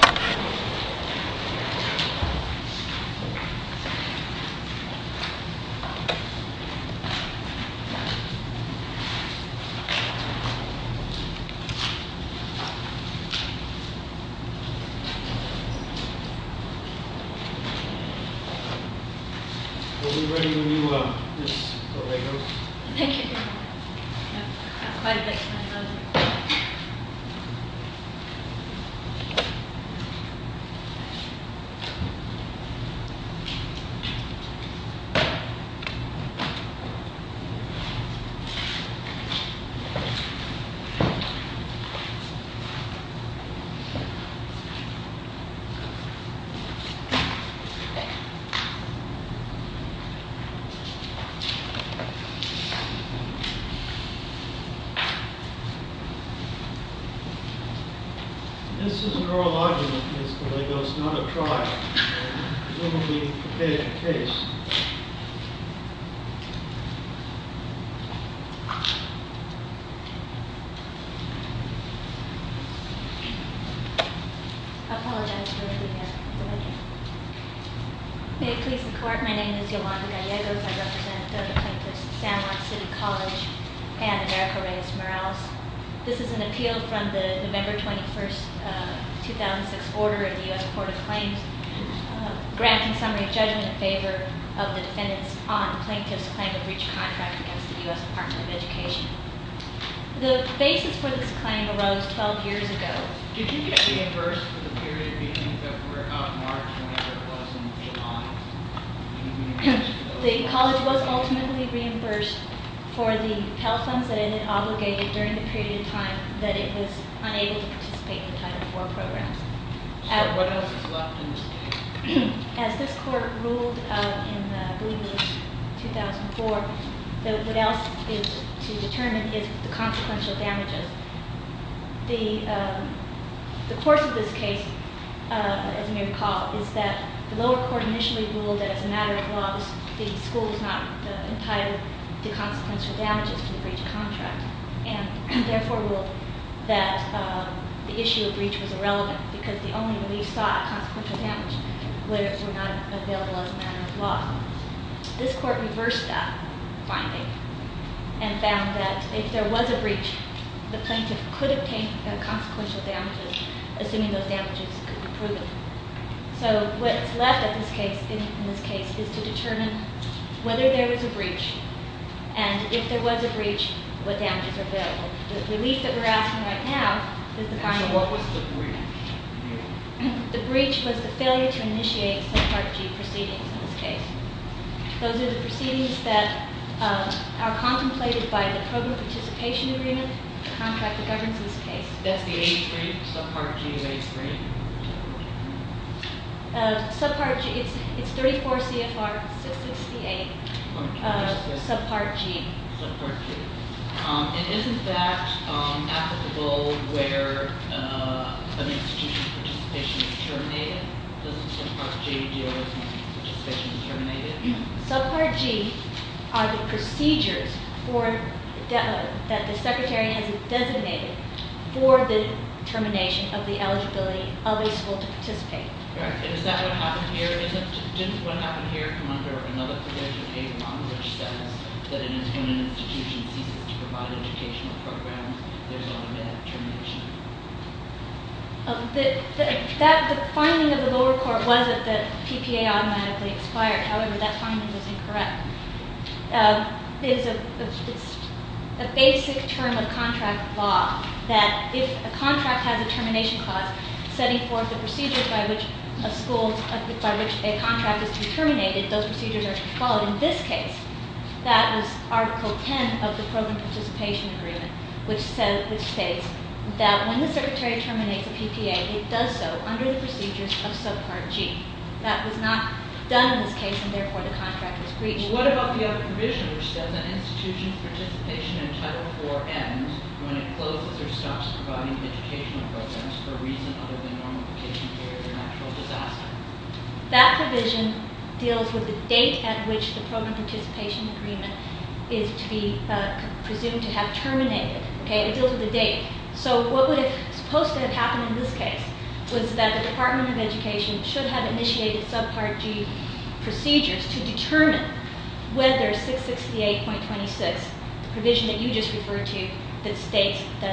Are we ready when you make those? Thank you. I'm talking to my mother-in-law. This is an oral argument, Ms. Gallegos, not a trial, and we will be prepared to case. I apologize for the delay. May it please the Court, my name is Yolanda Gallegos. I represent the plaintiffs at San Juan City College and America Raised Morales. This is an appeal from the November 21, 2006, order of the U.S. Court of Claims, granting summary judgment in favor of the defendants on plaintiff's claim of breach of contract against the U.S. Department of Education. The basis for this claim arose 12 years ago. Did you get reimbursed for the period between February, March, November, and August? The college was ultimately reimbursed for the Pell funds that it had obligated during the period of time that it was unable to participate in Title IV programs. What else is left in this case? As this Court ruled in, I believe, 2004, what else is to be determined is the consequential damages. The course of this case, as you may recall, is that the lower court initially ruled that as a matter of law, the school is not entitled to consequential damages for the breach of contract, and therefore ruled that the issue of breach was irrelevant because the only relief sought at consequential damage were not available as a matter of law. This Court reversed that finding and found that if there was a breach, the plaintiff could obtain consequential damages, assuming those damages could be proven. So what's left in this case is to determine whether there was a breach, and if there was a breach, what damages are available. The relief that we're asking right now is the kind of— What was the breach? The breach was the failure to initiate Subpart G proceedings in this case. Those are the proceedings that are contemplated by the Program Participation Agreement, the contract that governs this case. That's the A3? Subpart G is A3? Subpart G, it's 34 CFR 668, Subpart G. And isn't that applicable where an institution's participation is terminated? Does Subpart G deal with participation terminated? Subpart G are the procedures that the Secretary has designated for the termination of the eligibility of a school to participate. All right. And is that what happened here? Didn't what happened here come under another provision, A1, which says that it is when an institution ceases to provide educational programs, there's automatic termination? The finding of the lower court was that the PPA automatically expired. However, that finding was incorrect. It's a basic term of contract law that if a contract has a termination clause, setting forth the procedures by which a contract is terminated, those procedures are followed. In this case, that was Article 10 of the Program Participation Agreement, which states that when the Secretary terminates a PPA, it does so under the procedures of Subpart G. That was not done in this case, and therefore, the contract is breached. What about the other provision, which says an institution's participation in Title IV ends when it closes or stops providing educational programs, for reasons other than normalization period or natural disaster? That provision deals with the date at which the Program Participation Agreement is to be presumed to have terminated. It deals with the date. So what was supposed to have happened in this case was that the Department of Education should have initiated Subpart G procedures to determine whether 668.26, the provision that you just referred to, that states that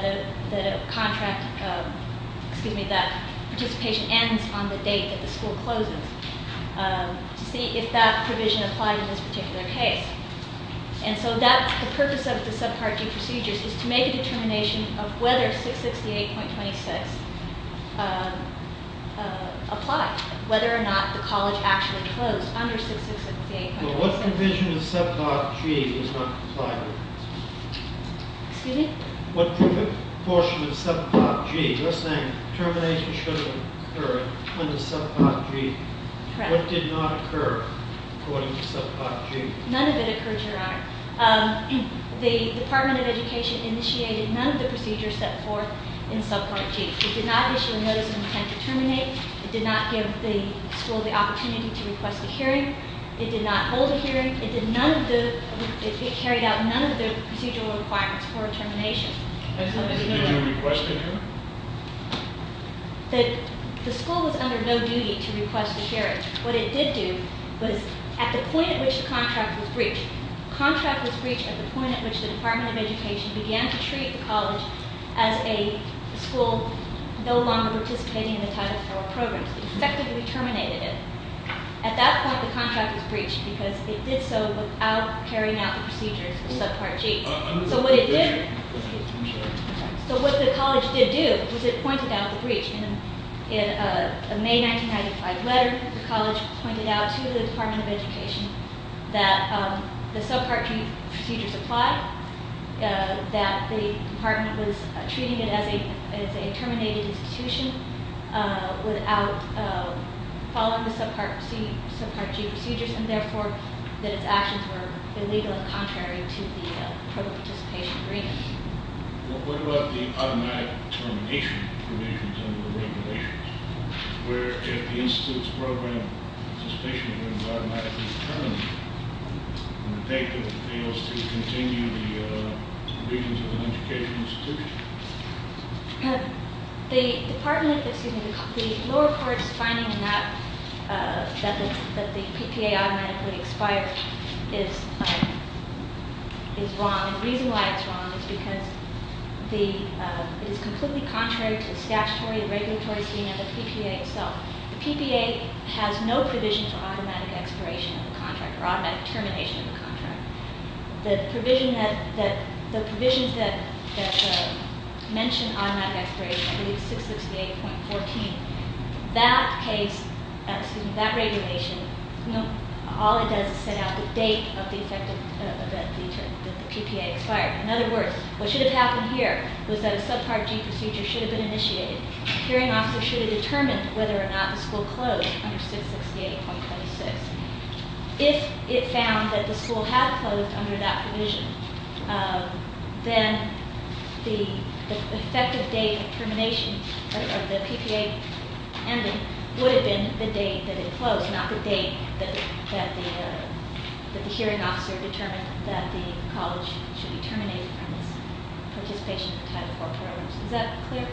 participation ends on the date that the school closes, to see if that provision applied in this particular case. And so the purpose of the Subpart G procedures was to make a determination of whether 668.26 applied, whether or not the college actually closed under 668.26. Well, what provision of Subpart G does not comply with this? Excuse me? What portion of Subpart G? You're saying termination shouldn't occur under Subpart G. Correct. What did not occur according to Subpart G? None of it occurred, Your Honor. The Department of Education initiated none of the procedures set forth in Subpart G. It did not issue a notice of intent to terminate. It did not give the school the opportunity to request a hearing. It did not hold a hearing. It did none of the, it carried out none of the procedural requirements for termination. Did you request a hearing? The school was under no duty to request a hearing. What it did do was, at the point at which the contract was breached, the contract was breached at the point at which the Department of Education began to treat the college as a school no longer participating in the Title IV programs. It effectively terminated it. At that point, the contract was breached because it did so without carrying out the procedures for Subpart G. So what it did, so what the college did do was it pointed out the breach. In a May 1995 letter, the college pointed out to the Department of Education that the Subpart G procedures apply, that the department was treating it as a terminated institution without following the Subpart G procedures, and therefore that its actions were illegal and contrary to the pro-participation agreement. What about the automatic termination provisions under the regulations? Where if the institute's program participation agreement is automatically terminated, do you think that it fails to continue the provisions of an educational institution? The Department, excuse me, the lower court's finding that the PPA automatically expires is wrong. The reason why it's wrong is because it is completely contrary to statutory and regulatory standard of the PPA itself. The PPA has no provision for automatic expiration of a contract or automatic termination of a contract. The provision that, the provisions that mention automatic expiration, I believe 668.14, that case, excuse me, that regulation, you know, all it does is set out the date of the effective event that the PPA expired. In other words, what should have happened here was that a Subpart G procedure should have been initiated. The hearing officer should have determined whether or not the school closed under 668.26. If it found that the school had closed under that provision, then the effective date of termination of the PPA would have been the date that it closed, not the date that the hearing officer determined that the college should be terminated from its participation in Title IV programs. Is that clear?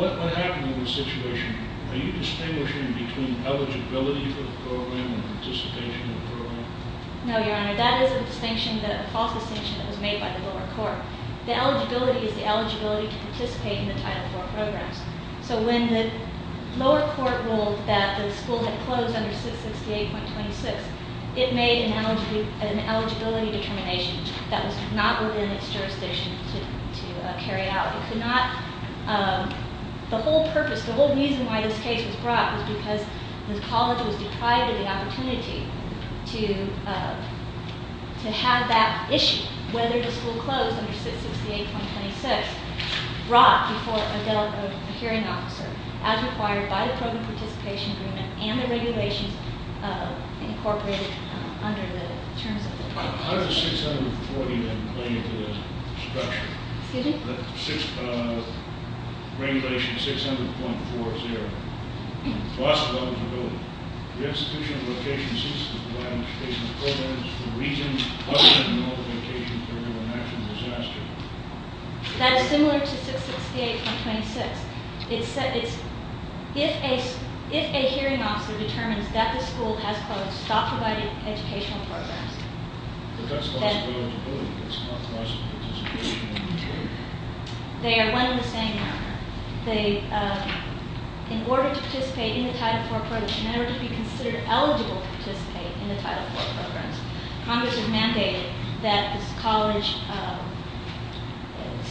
What happened in this situation? Are you distinguishing between eligibility for the program and participation in the program? No, Your Honor. That is a distinction, a false distinction that was made by the lower court. The eligibility is the eligibility to participate in the Title IV programs. So when the lower court ruled that the school had closed under 668.26, it made an eligibility determination that was not within its jurisdiction to carry out. It could not, the whole purpose, the whole reason why this case was brought was because the college was deprived of the opportunity to have that issue, whether the school closed under 668.26, brought before a hearing officer as required by the program participation agreement and the regulations incorporated under the terms of the- How did the 640 then play into the structure? Excuse me? Regulation 600.40, plus eligibility. The institution of location ceased to provide educational programs for reasons other than the multiplication of the national disaster. That is similar to 668.26. It said it's, if a hearing officer determines that the school has closed, stop providing educational programs. But that's plus eligibility. That's not plus participation in the program. They are one in the same. They, in order to participate in the Title IV programs, in order to be considered eligible to participate in the Title IV programs, Congress has mandated that this college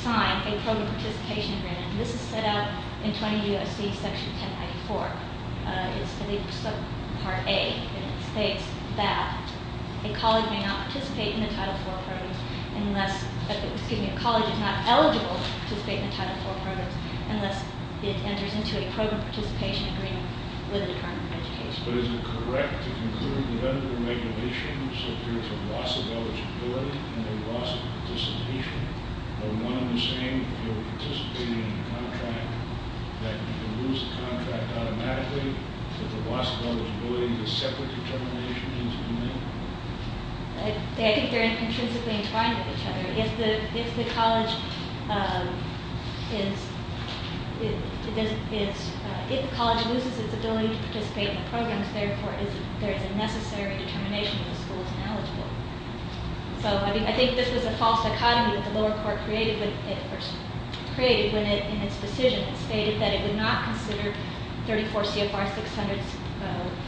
sign a program participation agreement. This is set out in 20 U.S.C. Section 1094. It's part A, and it states that a college may not participate in the Title IV programs unless, excuse me, a college is not eligible to participate in the Title IV programs, unless it enters into a program participation agreement with the Department of Education. But is it correct to conclude that under the regulations, there's a loss of eligibility and a loss of participation? They're one in the same if you're participating in a contract, that you can lose the contract automatically, but the loss of eligibility is a separate determination that needs to be made? I think they're intrinsically entwined with each other. If the college is, if the college loses its ability to participate in the programs, therefore there is a necessary determination that the school is ineligible. So I think this was a false dichotomy that the lower court created when it, in its decision, stated that it would not consider 34 CFR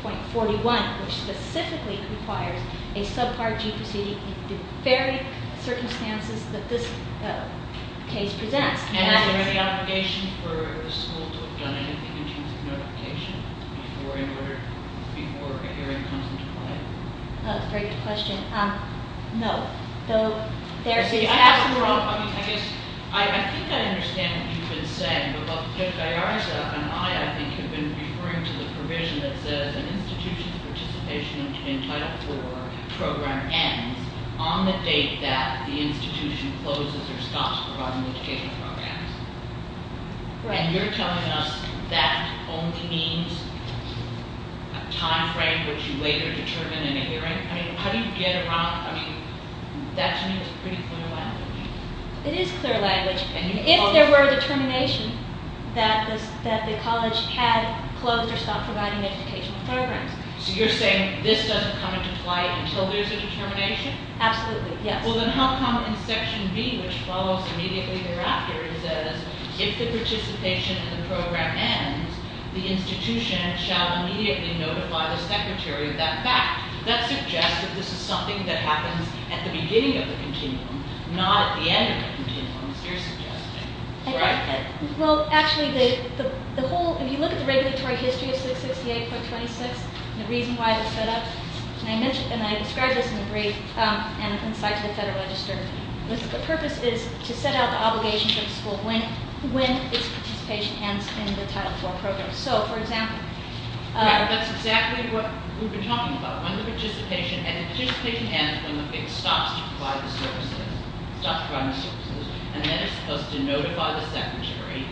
600.41, which specifically requires a subpart G proceeding in the very circumstances that this case presents. And is there any obligation for the school to have done anything in terms of notification before a hearing comes into play? That's a very good question. No. I guess, I think I understand what you've been saying. But Judge DiArza and I, I think, have been referring to the provision that says an institution's participation in Title IV program ends on the date that the institution closes or stops providing education programs. Right. And you're telling us that only means a time frame which you later determine in a hearing? I mean, how do you get around, I mean, that to me is pretty clear language. It is clear language. If there were a determination that the college had closed or stopped providing educational programs. So you're saying this doesn't come into play until there's a determination? Absolutely, yes. Well, then how come in Section B, which follows immediately thereafter, it says, if the participation in the program ends, the institution shall immediately notify the Secretary of that fact. That suggests that this is something that happens at the beginning of the continuum, not at the end of the continuum, as you're suggesting. Right. Well, actually, the whole, if you look at the regulatory history of 668.26, the reason why it was set up, and I described this in the brief, and an insight to the Federal Register, the purpose is to set out the obligations of the school when its participation ends in the Title IV program. So, for example. Right, that's exactly what we've been talking about. When the participation, and the participation ends when it stops to provide the services, stops providing the services, and then it's supposed to notify the Secretary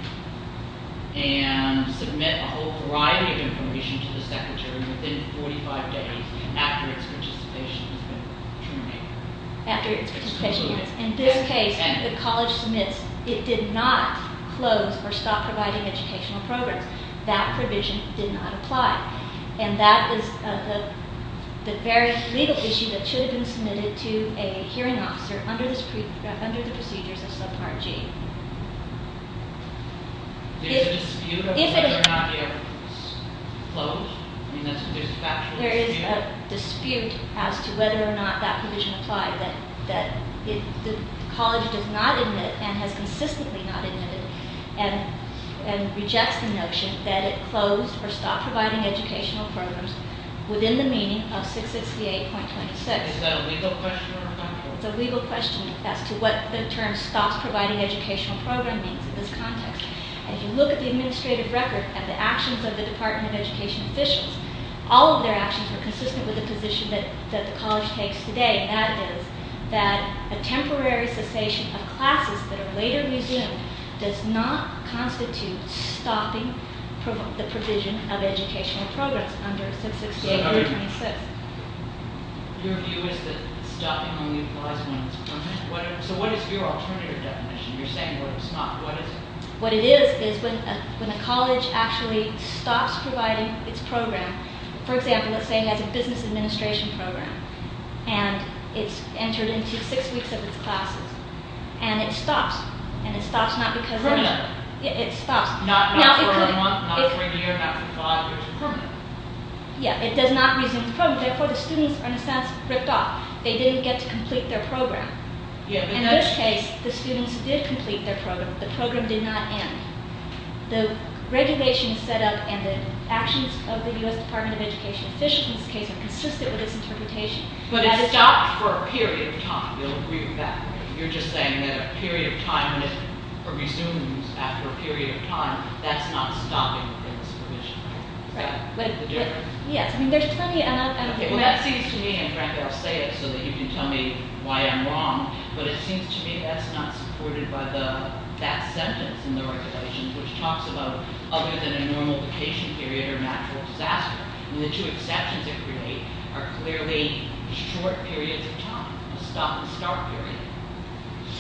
and submit a whole variety of information to the Secretary within 45 days after its participation has been terminated. After its participation ends. In this case, the college submits, it did not close or stop providing educational programs. That provision did not apply. And that is the very legal issue that should have been submitted to a hearing officer under the procedures of Subpart G. There's a dispute about whether or not the evidence was closed? I mean, there's a factual dispute? There is a dispute as to whether or not that provision applied. The college does not admit, and has consistently not admitted, and rejects the notion that it closed or stopped providing educational programs within the meaning of 668.26. Is that a legal question or a factual question? It's a legal question as to what the term stops providing educational programs means in this context. If you look at the administrative record and the actions of the Department of Education officials, all of their actions are consistent with the position that the college takes today, and that is that a temporary cessation of classes that are later resumed does not constitute stopping the provision of educational programs under 668.26. Your view is that stopping only applies when it's permitted? So what is your alternative definition? You're saying it would have stopped. What is it? What it is is when a college actually stops providing its program, for example, let's say it has a business administration program, and it's entered into six weeks of its classes, and it stops. And it stops not because it's permitted. It stops. Not for a month, not for a year, not for five years. It's permanent. Yeah, it does not resume the program. Therefore, the students are in a sense ripped off. They didn't get to complete their program. In this case, the students did complete their program. The program did not end. The regulations set up and the actions of the U.S. Department of Education officials in this case are consistent with this interpretation. But it stopped for a period of time. You'll agree with that. You're just saying that a period of time, when it resumes after a period of time, that's not stopping in this provision. Right. Yes. Well, that seems to me, and frankly, I'll say it so that you can tell me why I'm wrong, but it seems to me that's not supported by that sentence in the regulations, which talks about other than a normal vacation period or natural disaster. And the two exceptions it creates are clearly short periods of time, a stop and start period.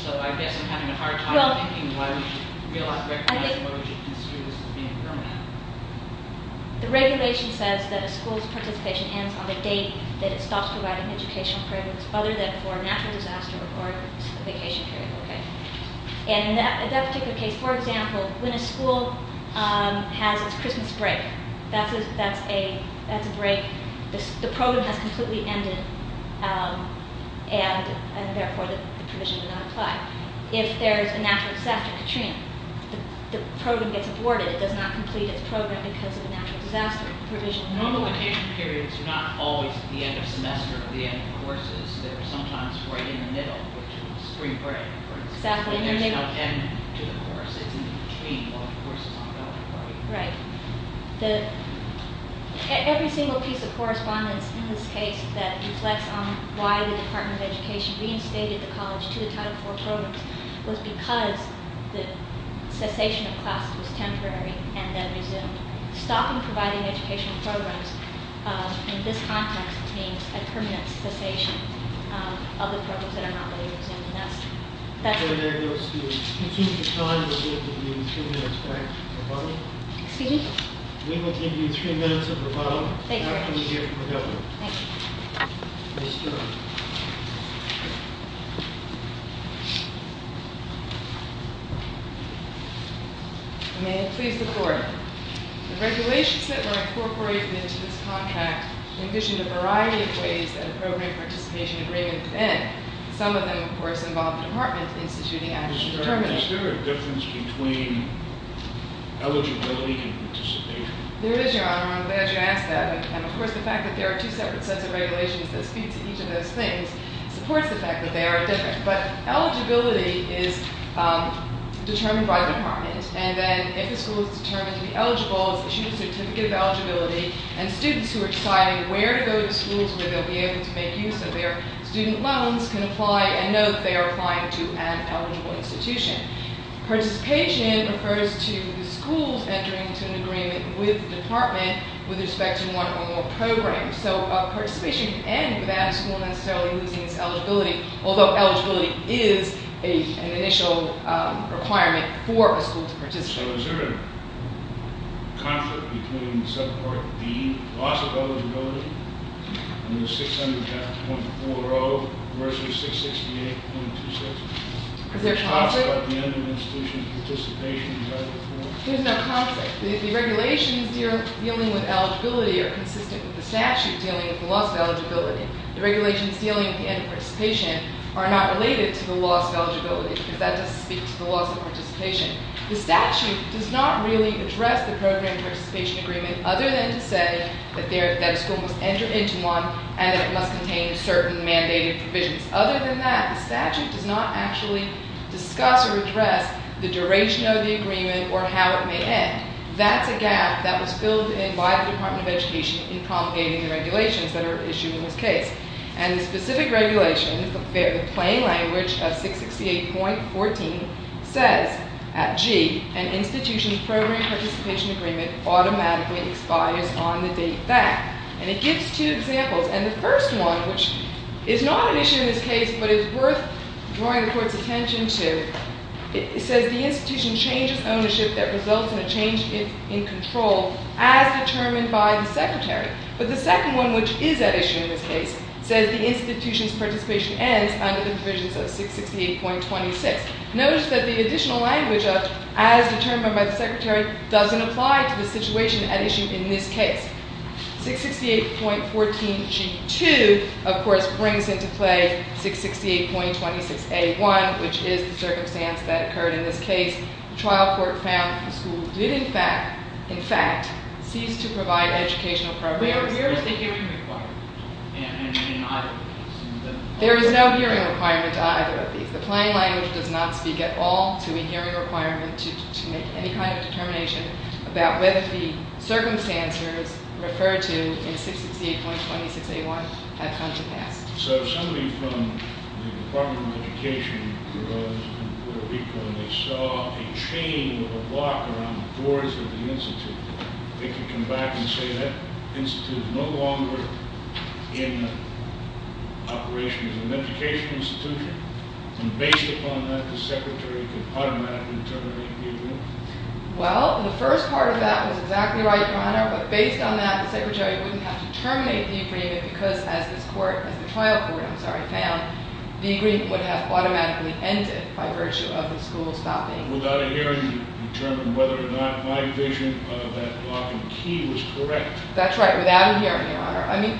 So I guess I'm having a hard time thinking why we should realize, recognize, or why we should consider this as being permanent. The regulation says that a school's participation ends on the date that it stops providing educational programs other than for a natural disaster or a vacation period. And in that particular case, for example, when a school has its Christmas break, that's a break. The program has completely ended and, therefore, the provision did not apply. If there is a natural disaster, Katrina, the program gets aborted. It does not complete its program because of a natural disaster provision. Normal vacation periods are not always at the end of semester or the end of courses. They're sometimes right in the middle, which is spring break, for instance. Exactly. There's no end to the course. It's in between while the course is ongoing. Right. Every single piece of correspondence in this case that reflects on why the Department of Education reinstated the college to the Title IV programs was because the cessation of classes was temporary and then resumed. Stopping providing educational programs in this context means a permanent cessation of the programs that are not being resumed. And that's- There goes the- Excuse me. We will give you three minutes of rebuttal. Excuse me? We will give you three minutes of rebuttal. Thank you very much. After we hear from the Governor. Thank you. May it please the Court. The regulations that were incorporated into this contract envisioned a variety of ways that a program participation agreement could end. Some of them, of course, involved the Department instituting action determinants. Is there a difference between eligibility and participation? There is, Your Honor. I'm glad you asked that. And of course, the fact that there are two separate sets of regulations that speak to each of those things supports the fact that they are different. But eligibility is determined by the Department. And then if the school is determined to be eligible, it's issued a certificate of eligibility. And students who are deciding where to go to schools where they'll be able to make use of their student loans can apply and know that they are applying to an eligible institution. Participation refers to the schools entering into an agreement with the Department with respect to one or more programs. So participation can end without a school necessarily losing its eligibility. Although eligibility is an initial requirement for a school to participate. So is there a conflict between the subpart D, loss of eligibility, under 600.40 versus 668.26? Is there a conflict? Is there a conflict at the end of an institution's participation? There's no conflict. The regulations dealing with eligibility are consistent with the statute dealing with the loss of eligibility. The regulations dealing with the end of participation are not related to the loss of eligibility because that doesn't speak to the loss of participation. The statute does not really address the program participation agreement other than to say that a school must enter into one and that it must contain certain mandated provisions. Other than that, the statute does not actually discuss or address the duration of the agreement or how it may end. That's a gap that was filled in by the Department of Education in promulgating the regulations that are issued in this case. And the specific regulation, the plain language of 668.14 says at G, an institution's program participation agreement automatically expires on the date back. And it gives two examples. And the first one, which is not an issue in this case but is worth drawing the Court's attention to, says the institution changes ownership that results in a change in control as determined by the secretary. But the second one, which is at issue in this case, says the institution's participation ends under the provisions of 668.26. Notice that the additional language of as determined by the secretary doesn't apply to the situation at issue in this case. 668.14G2, of course, brings into play 668.26A1, which is the circumstance that occurred in this case. The trial court found the school did, in fact, cease to provide educational programs. Where is the hearing requirement? There is no hearing requirement to either of these. The plain language does not speak at all to a hearing requirement to make any kind of determination about whether the circumstances referred to in 668.26A1 have come to pass. So if somebody from the Department of Education goes and for a week when they saw a chain of a block around the doors of the institute, they could come back and say that institute is no longer in operation as an education institution. And based upon that, the secretary could automatically terminate the agreement. Well, the first part of that was exactly right, Your Honor. But based on that, the secretary wouldn't have to terminate the agreement because as this court, as the trial court, I'm sorry, found, the agreement would have automatically ended by virtue of the school stopping. Without a hearing to determine whether or not my vision of that block and key was correct. That's right, without a hearing, Your Honor. I mean-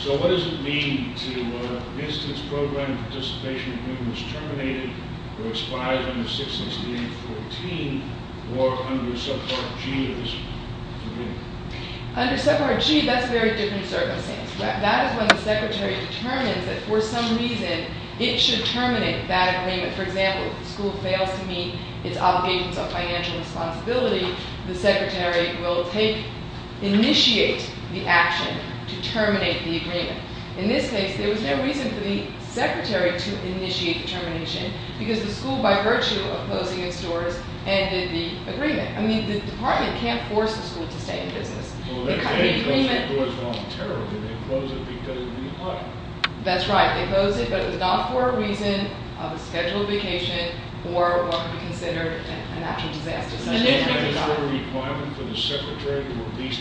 So what does it mean to instance program participation agreement was terminated or expired under 668.14 or under subpart G of this agreement? Under subpart G, that's a very different circumstance. That is when the secretary determines that for some reason it should terminate that agreement. For example, if the school fails to meet its obligations of financial responsibility, the secretary will take, initiate the action to terminate the agreement. In this case, there was no reason for the secretary to initiate the termination because the school, by virtue of closing its doors, ended the agreement. I mean, the department can't force the school to stay in business. Well, they closed the doors wrong, terribly. They closed it because they didn't need money. That's right. They closed it, but it was not for a reason of a scheduled vacation or what would be considered a natural disaster. Is there a requirement for the secretary to at least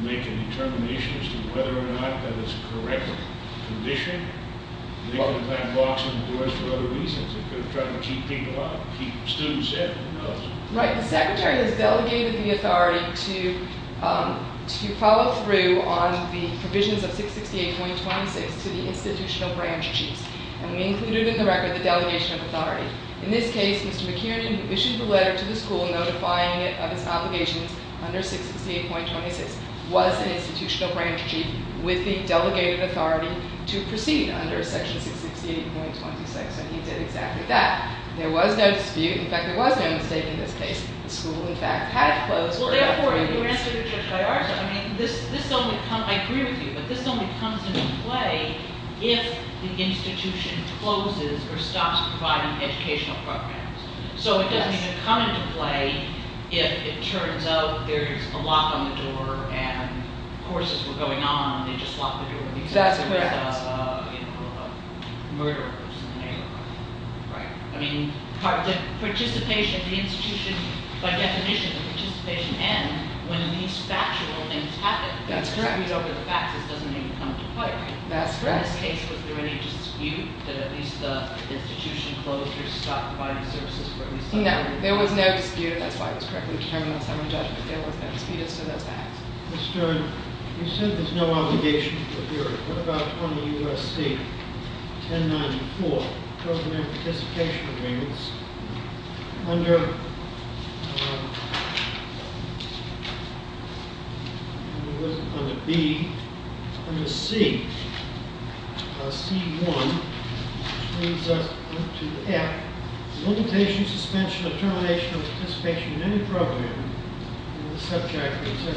make a determination as to whether or not that it's a correct condition? They can plant blocks in the doors for other reasons. They could have tried to keep people out, keep students out. Right. The secretary has delegated the authority to follow through on the provisions of 668.26 to the institutional branch chiefs. And we included in the record the delegation of authority. In this case, Mr. McKiernan, who issued the letter to the school notifying it of its obligations under 668.26, was an institutional branch chief with the delegated authority to proceed under section 668.26. And he did exactly that. There was no dispute. In fact, there was no mistake in this case. The school, in fact, had closed for about three weeks. Well, therefore, you answered it just by arson. I mean, this only comes – I agree with you, but this only comes into play if the institution closes or stops providing educational programs. So it doesn't even come into play if it turns out there's a lock on the door and courses were going on and they just locked the door. Exactly. Right. I mean, the participation, the institution, by definition, the participation ends when these factual things happen. That's correct. We don't get the facts. It doesn't even come into play. That's correct. In this case, was there any dispute that at least the institution closed or stopped providing services? No. There was no dispute. That's why it was correctly determined. I was having a judgment. There was no dispute. So that's that. Mr. Stern, you said there's no obligation. What about 20 U.S.C. 1094, Program and Participation Agreements? Under – it wasn't under B. Under C, C-1, which leads us up to F, Limitation, Suspension, or Termination of Participation in Any Program, Subject, etc.,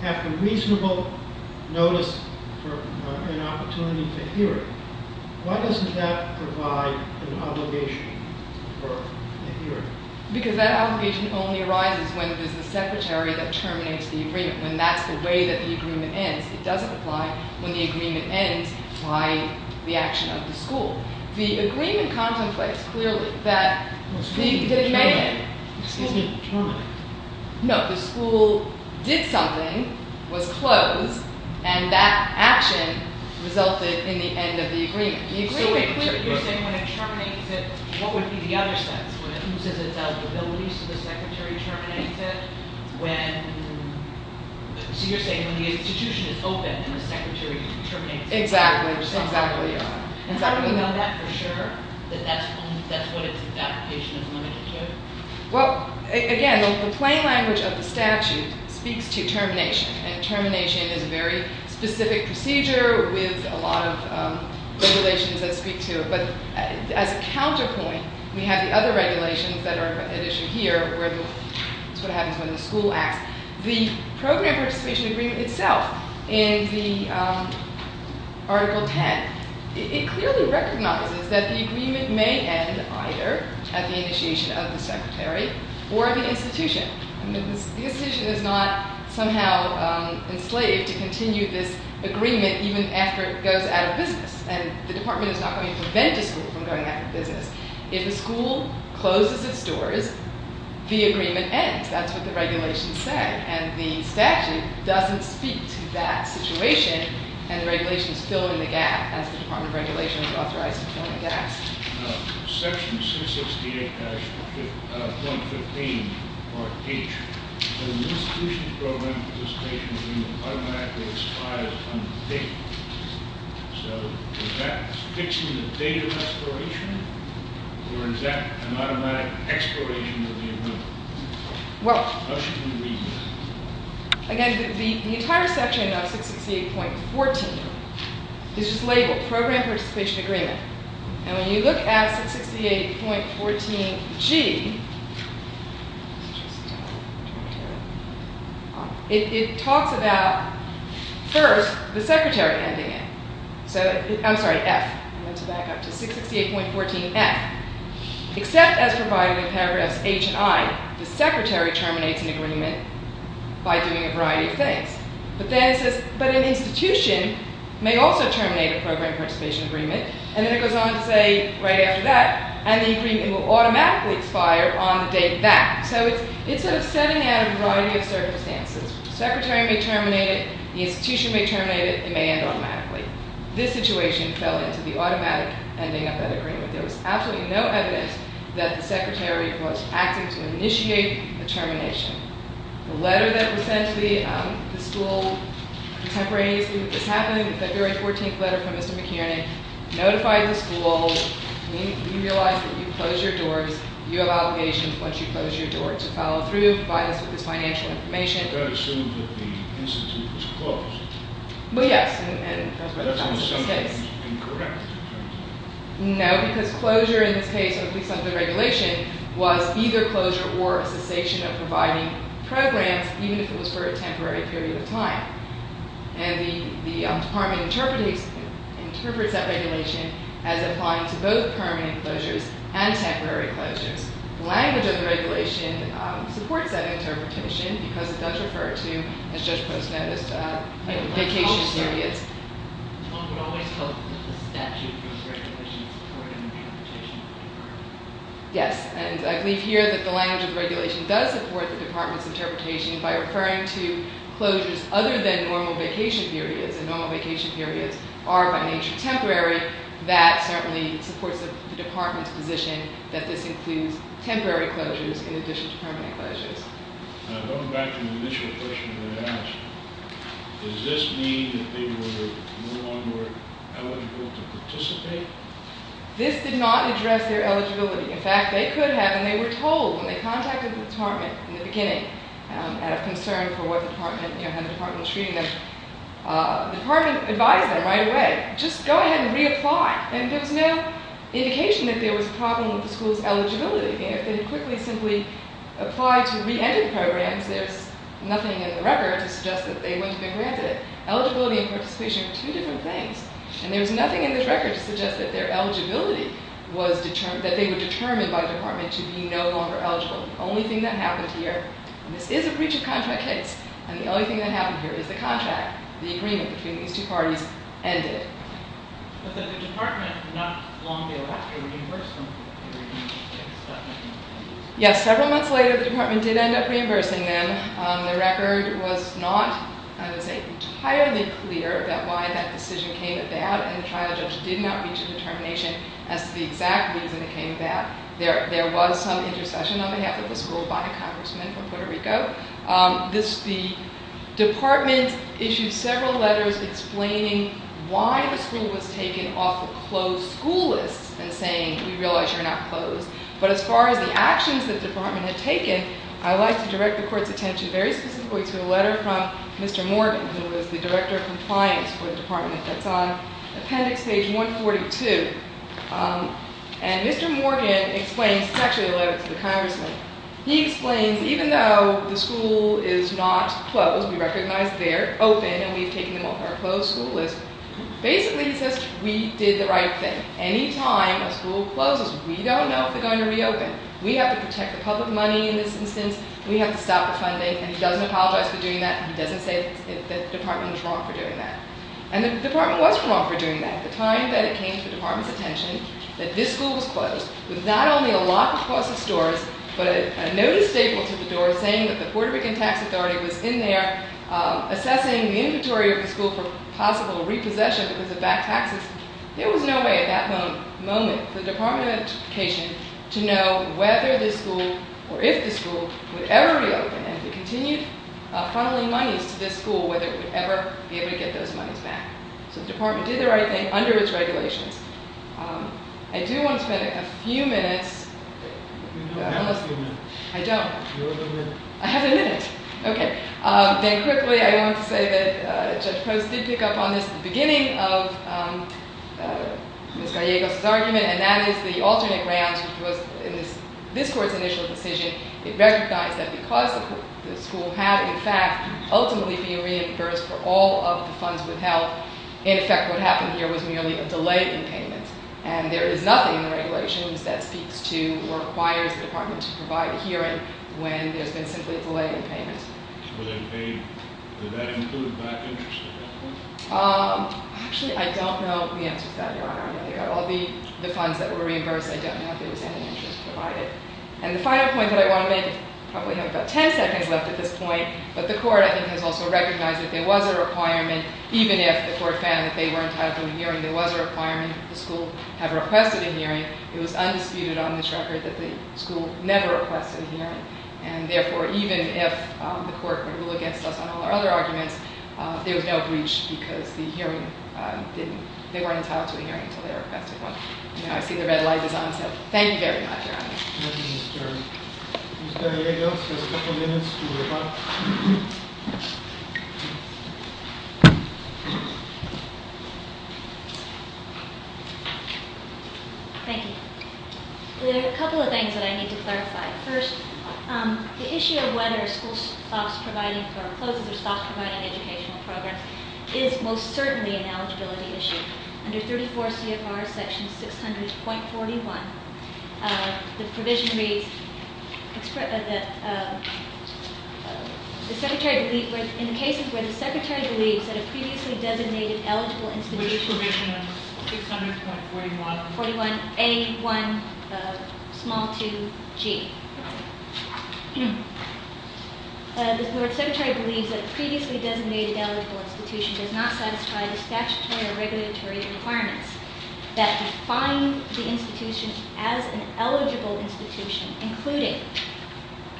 have a reasonable notice for an opportunity to hear it. Why doesn't that provide an obligation for the hearing? Because that obligation only arises when there's a secretary that terminates the agreement. When that's the way that the agreement ends. It doesn't apply when the agreement ends by the action of the school. The agreement contemplates clearly that the school did something, was closed, and that action resulted in the end of the agreement. So you're saying when it terminates it, what would be the other sense? When it loses its eligibility, so the secretary terminates it? So you're saying when the institution is open, then the secretary terminates it? Exactly. Are you sure that that's what its application is limited to? Well, again, the plain language of the statute speaks to termination. And termination is a very specific procedure with a lot of regulations that speak to it. But as a counterpoint, we have the other regulations that are at issue here. That's what happens when the school acts. The program participation agreement itself in the Article 10, it clearly recognizes that the agreement may end either at the initiation of the secretary or at the institution. The institution is not somehow enslaved to continue this agreement even after it goes out of business. And the department is not going to prevent the school from going out of business. If the school closes its doors, the agreement ends. That's what the regulations say. And the statute doesn't speak to that situation. And the regulations fill in the gap, as the Department of Regulations authorized to fill in the gaps. Section 668-115, Part H. An institution's program participation agreement automatically expires on the date. So is that fixing the date of expiration, or is that an automatic expiration of the agreement? How should we read that? Again, the entire section of 668.14 is just labeled Program Participation Agreement. And when you look at 668.14G, it talks about, first, the secretary ending it. I'm sorry, F. I'm going to back up to 668.14F. Except as provided in paragraphs H and I, the secretary terminates an agreement by doing a variety of things. But then it says, but an institution may also terminate a Program Participation Agreement. And then it goes on to say, right after that, and the agreement will automatically expire on the date back. So it's sort of setting out a variety of circumstances. The secretary may terminate it. The institution may terminate it. It may end automatically. This situation fell into the automatic ending of that agreement. There was absolutely no evidence that the secretary was acting to initiate the termination. The letter that was sent to me, the school contemporaneously that this happened, the February 14th letter from Mr. McInerney notified the school, we realize that you close your doors. You have obligations once you close your door to follow through, provide us with this financial information. That assumes that the institute was closed. Well, yes. And that's what happens in this case. No, because closure in this case, at least under the regulation, was either closure or a cessation of providing programs, even if it was for a temporary period of time. And the department interprets that regulation as applying to both permanent closures and temporary closures. The language of the regulation supports that interpretation because it does refer to, as Judge Post noticed, vacation periods. One would always hope that the statute of regulations supported an interpretation. Yes. And I believe here that the language of the regulation does support the department's interpretation by referring to closures other than normal vacation periods. And normal vacation periods are, by nature, temporary. That certainly supports the department's position that this includes temporary closures in addition to permanent closures. Going back to the initial question you asked, does this mean that they were no longer eligible to participate? This did not address their eligibility. In fact, they could have, and they were told when they contacted the department in the beginning out of concern for what department, you know, had the department treating them, the department advised them right away, just go ahead and reapply. And there was no indication that there was a problem with the school's eligibility. And if they had quickly simply applied to re-enter the programs, there's nothing in the record to suggest that they wouldn't have been granted it. Eligibility and participation are two different things. And there's nothing in this record to suggest that their eligibility was determined, that they were determined by the department to be no longer eligible. The only thing that happened here, and this is a breach of contract case, and the only thing that happened here is the contract, the agreement between these two parties, ended. But the department not long thereafter reimbursed them for the reimbursement. Yes, several months later the department did end up reimbursing them. The record was not, I would say, entirely clear about why that decision came about, and the trial judge did not reach a determination as to the exact reason it came about. There was some intercession on behalf of the school by a congressman from Puerto Rico. The department issued several letters explaining why the school was taken off the closed school list and saying, we realize you're not closed. But as far as the actions that the department had taken, I would like to direct the court's attention very specifically to a letter from Mr. Morgan, who is the director of compliance for the department. That's on appendix page 142. And Mr. Morgan explains, it's actually a letter to the congressman, he explains, even though the school is not closed, we recognize they're open and we've taken them off our closed school list, basically he says, we did the right thing. Any time a school closes, we don't know if they're going to reopen. We have to protect the public money in this instance, we have to stop the funding, and he doesn't apologize for doing that, he doesn't say that the department was wrong for doing that. And the department was wrong for doing that. With not only a lock across the doors, but a notice stapled to the door saying that the Puerto Rican tax authority was in there assessing the inventory of the school for possible repossession because it backed taxes, there was no way at that moment for the department of education to know whether this school, or if this school, would ever reopen. And if it continued funneling monies to this school, whether it would ever be able to get those monies back. So the department did the right thing under its regulations. I do want to spend a few minutes. You don't have a few minutes. I don't. You have a minute. I have a minute. Okay. Then quickly, I wanted to say that Judge Post did pick up on this at the beginning of Miss Gallegos' argument, and that is the alternate grounds, which was in this court's initial decision, it recognized that because the school had, in fact, ultimately been reimbursed for all of the funds withheld, in effect, what happened here was merely a delay in payment. And there is nothing in the regulations that speaks to or requires the department to provide a hearing when there's been simply a delay in payment. Was it a, did that include back interest at that point? Actually, I don't know the answer to that, Your Honor. I think out of all the funds that were reimbursed, I don't know if there was any interest provided. And the final point that I want to make, I probably have about ten seconds left at this point, but the court, I think, has also recognized that there was a requirement, even if the court found that they were entitled to a hearing, there was a requirement that the school have requested a hearing. It was undisputed on this record that the school never requested a hearing. And therefore, even if the court would rule against us on all our other arguments, there was no breach because the hearing didn't, they weren't entitled to a hearing until they requested one. And now I see the red light is on, so thank you very much, Your Honor. Thank you, Miss Gallegos. Miss Gallegos has a couple minutes to wrap up. Thank you. There are a couple of things that I need to clarify. First, the issue of whether school stops providing for, closes or stops providing educational programs is most certainly an eligibility issue. Under 34 CFR section 600.41, the provision reads, in cases where the secretary believes that a previously designated eligible institution, Which provision is 600.41? 41A1g. The board secretary believes that a previously designated eligible institution does not satisfy the statutory or regulatory requirements that define the institution as an eligible institution, including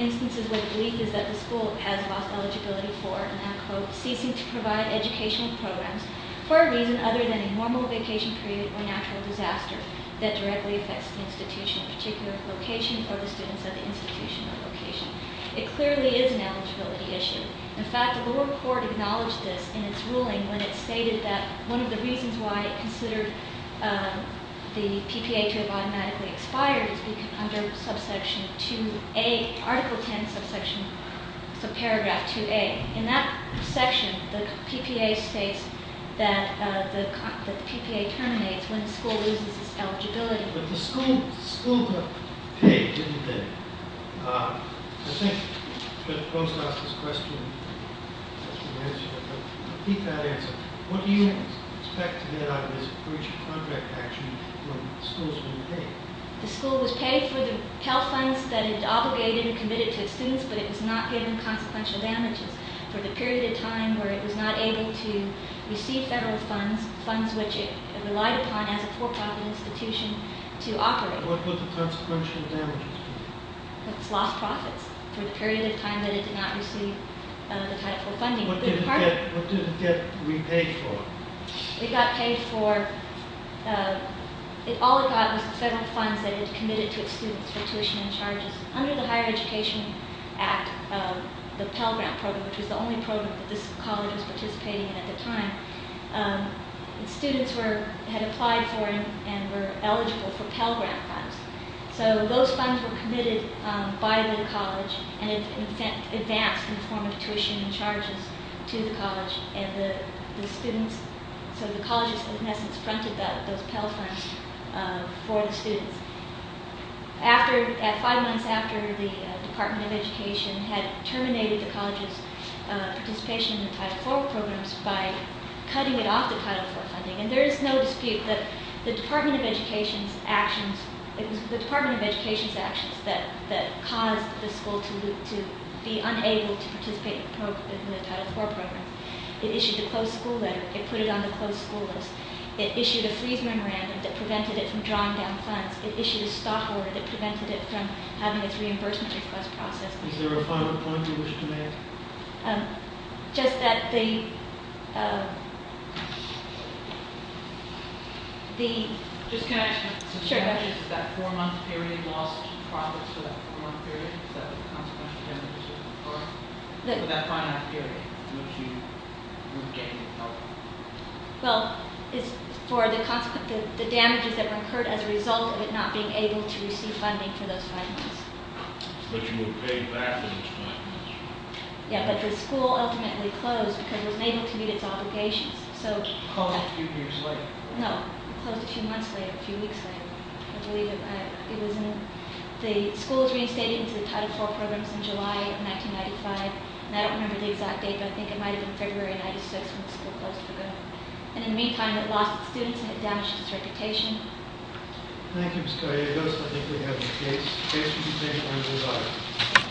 instances where the belief is that the school has lost eligibility for, and I quote, ceasing to provide educational programs for a reason other than a normal vacation period or natural disaster that directly affects the institution, a particular location for the students at the institution or location. It clearly is an eligibility issue. In fact, the lower court acknowledged this in its ruling when it stated that one of the reasons why it considered the PPA to have automatically expired is because under subsection 2A, Article 10, subsection, paragraph 2A. In that section, the PPA states that the PPA terminates when the school loses its eligibility. But the school does pay, doesn't it? I think, of course, I'll ask this question as we answer it, but I'll keep that answer. What do you expect to get out of this breach of contract action when the school's been paid? The school was paid for the health funds that it obligated and committed to its students, but it was not paid in consequential damages for the period of time where it was not able to receive federal funds, funds which it relied upon as a for-profit institution to operate. But what were the consequential damages? It's lost profits for the period of time that it did not receive the type of funding. What did it get repaid for? It got paid for, all it got was the federal funds that it committed to its students for tuition and charges. Under the Higher Education Act, the Pell Grant Program, which was the only program that this college was participating in at the time, students had applied for and were eligible for Pell Grant funds. So those funds were committed by the college and advanced in the form of tuition and charges to the college. So the colleges, in essence, fronted those Pell Funds for the students. Five months after the Department of Education had terminated the college's participation in the Title IV programs by cutting it off the Title IV funding, and there is no dispute that the Department of Education's actions that caused the school to be unable to participate in the Title IV programs, it issued a closed school letter, it put it on the closed school list, it issued a freeze memorandum that prevented it from drawing down funds, it issued a stop order that prevented it from having its reimbursement request processed. Is there a final point you wish to make? Just that the... Just can I ask you a question? Sure. Is that four-month period lost profits for that four-month period? Is that the consequential damages that were incurred for that five-month period? Well, it's for the damages that were incurred as a result of it not being able to receive funding for those five months. But you were paid back for those five months. Yeah, but the school ultimately closed because it was unable to meet its obligations. So... How many years later? No, it closed a few months later, a few weeks later. I believe it was in... The school was reinstated into the Title IV programs in July of 1995, and I don't remember the exact date, but I think it might have been February of 1996 when the school closed for good. And in the meantime, it lost its students and it damaged its reputation. Thank you, Ms. Correa. Those, I think, are the case. Case, would you say, on desire?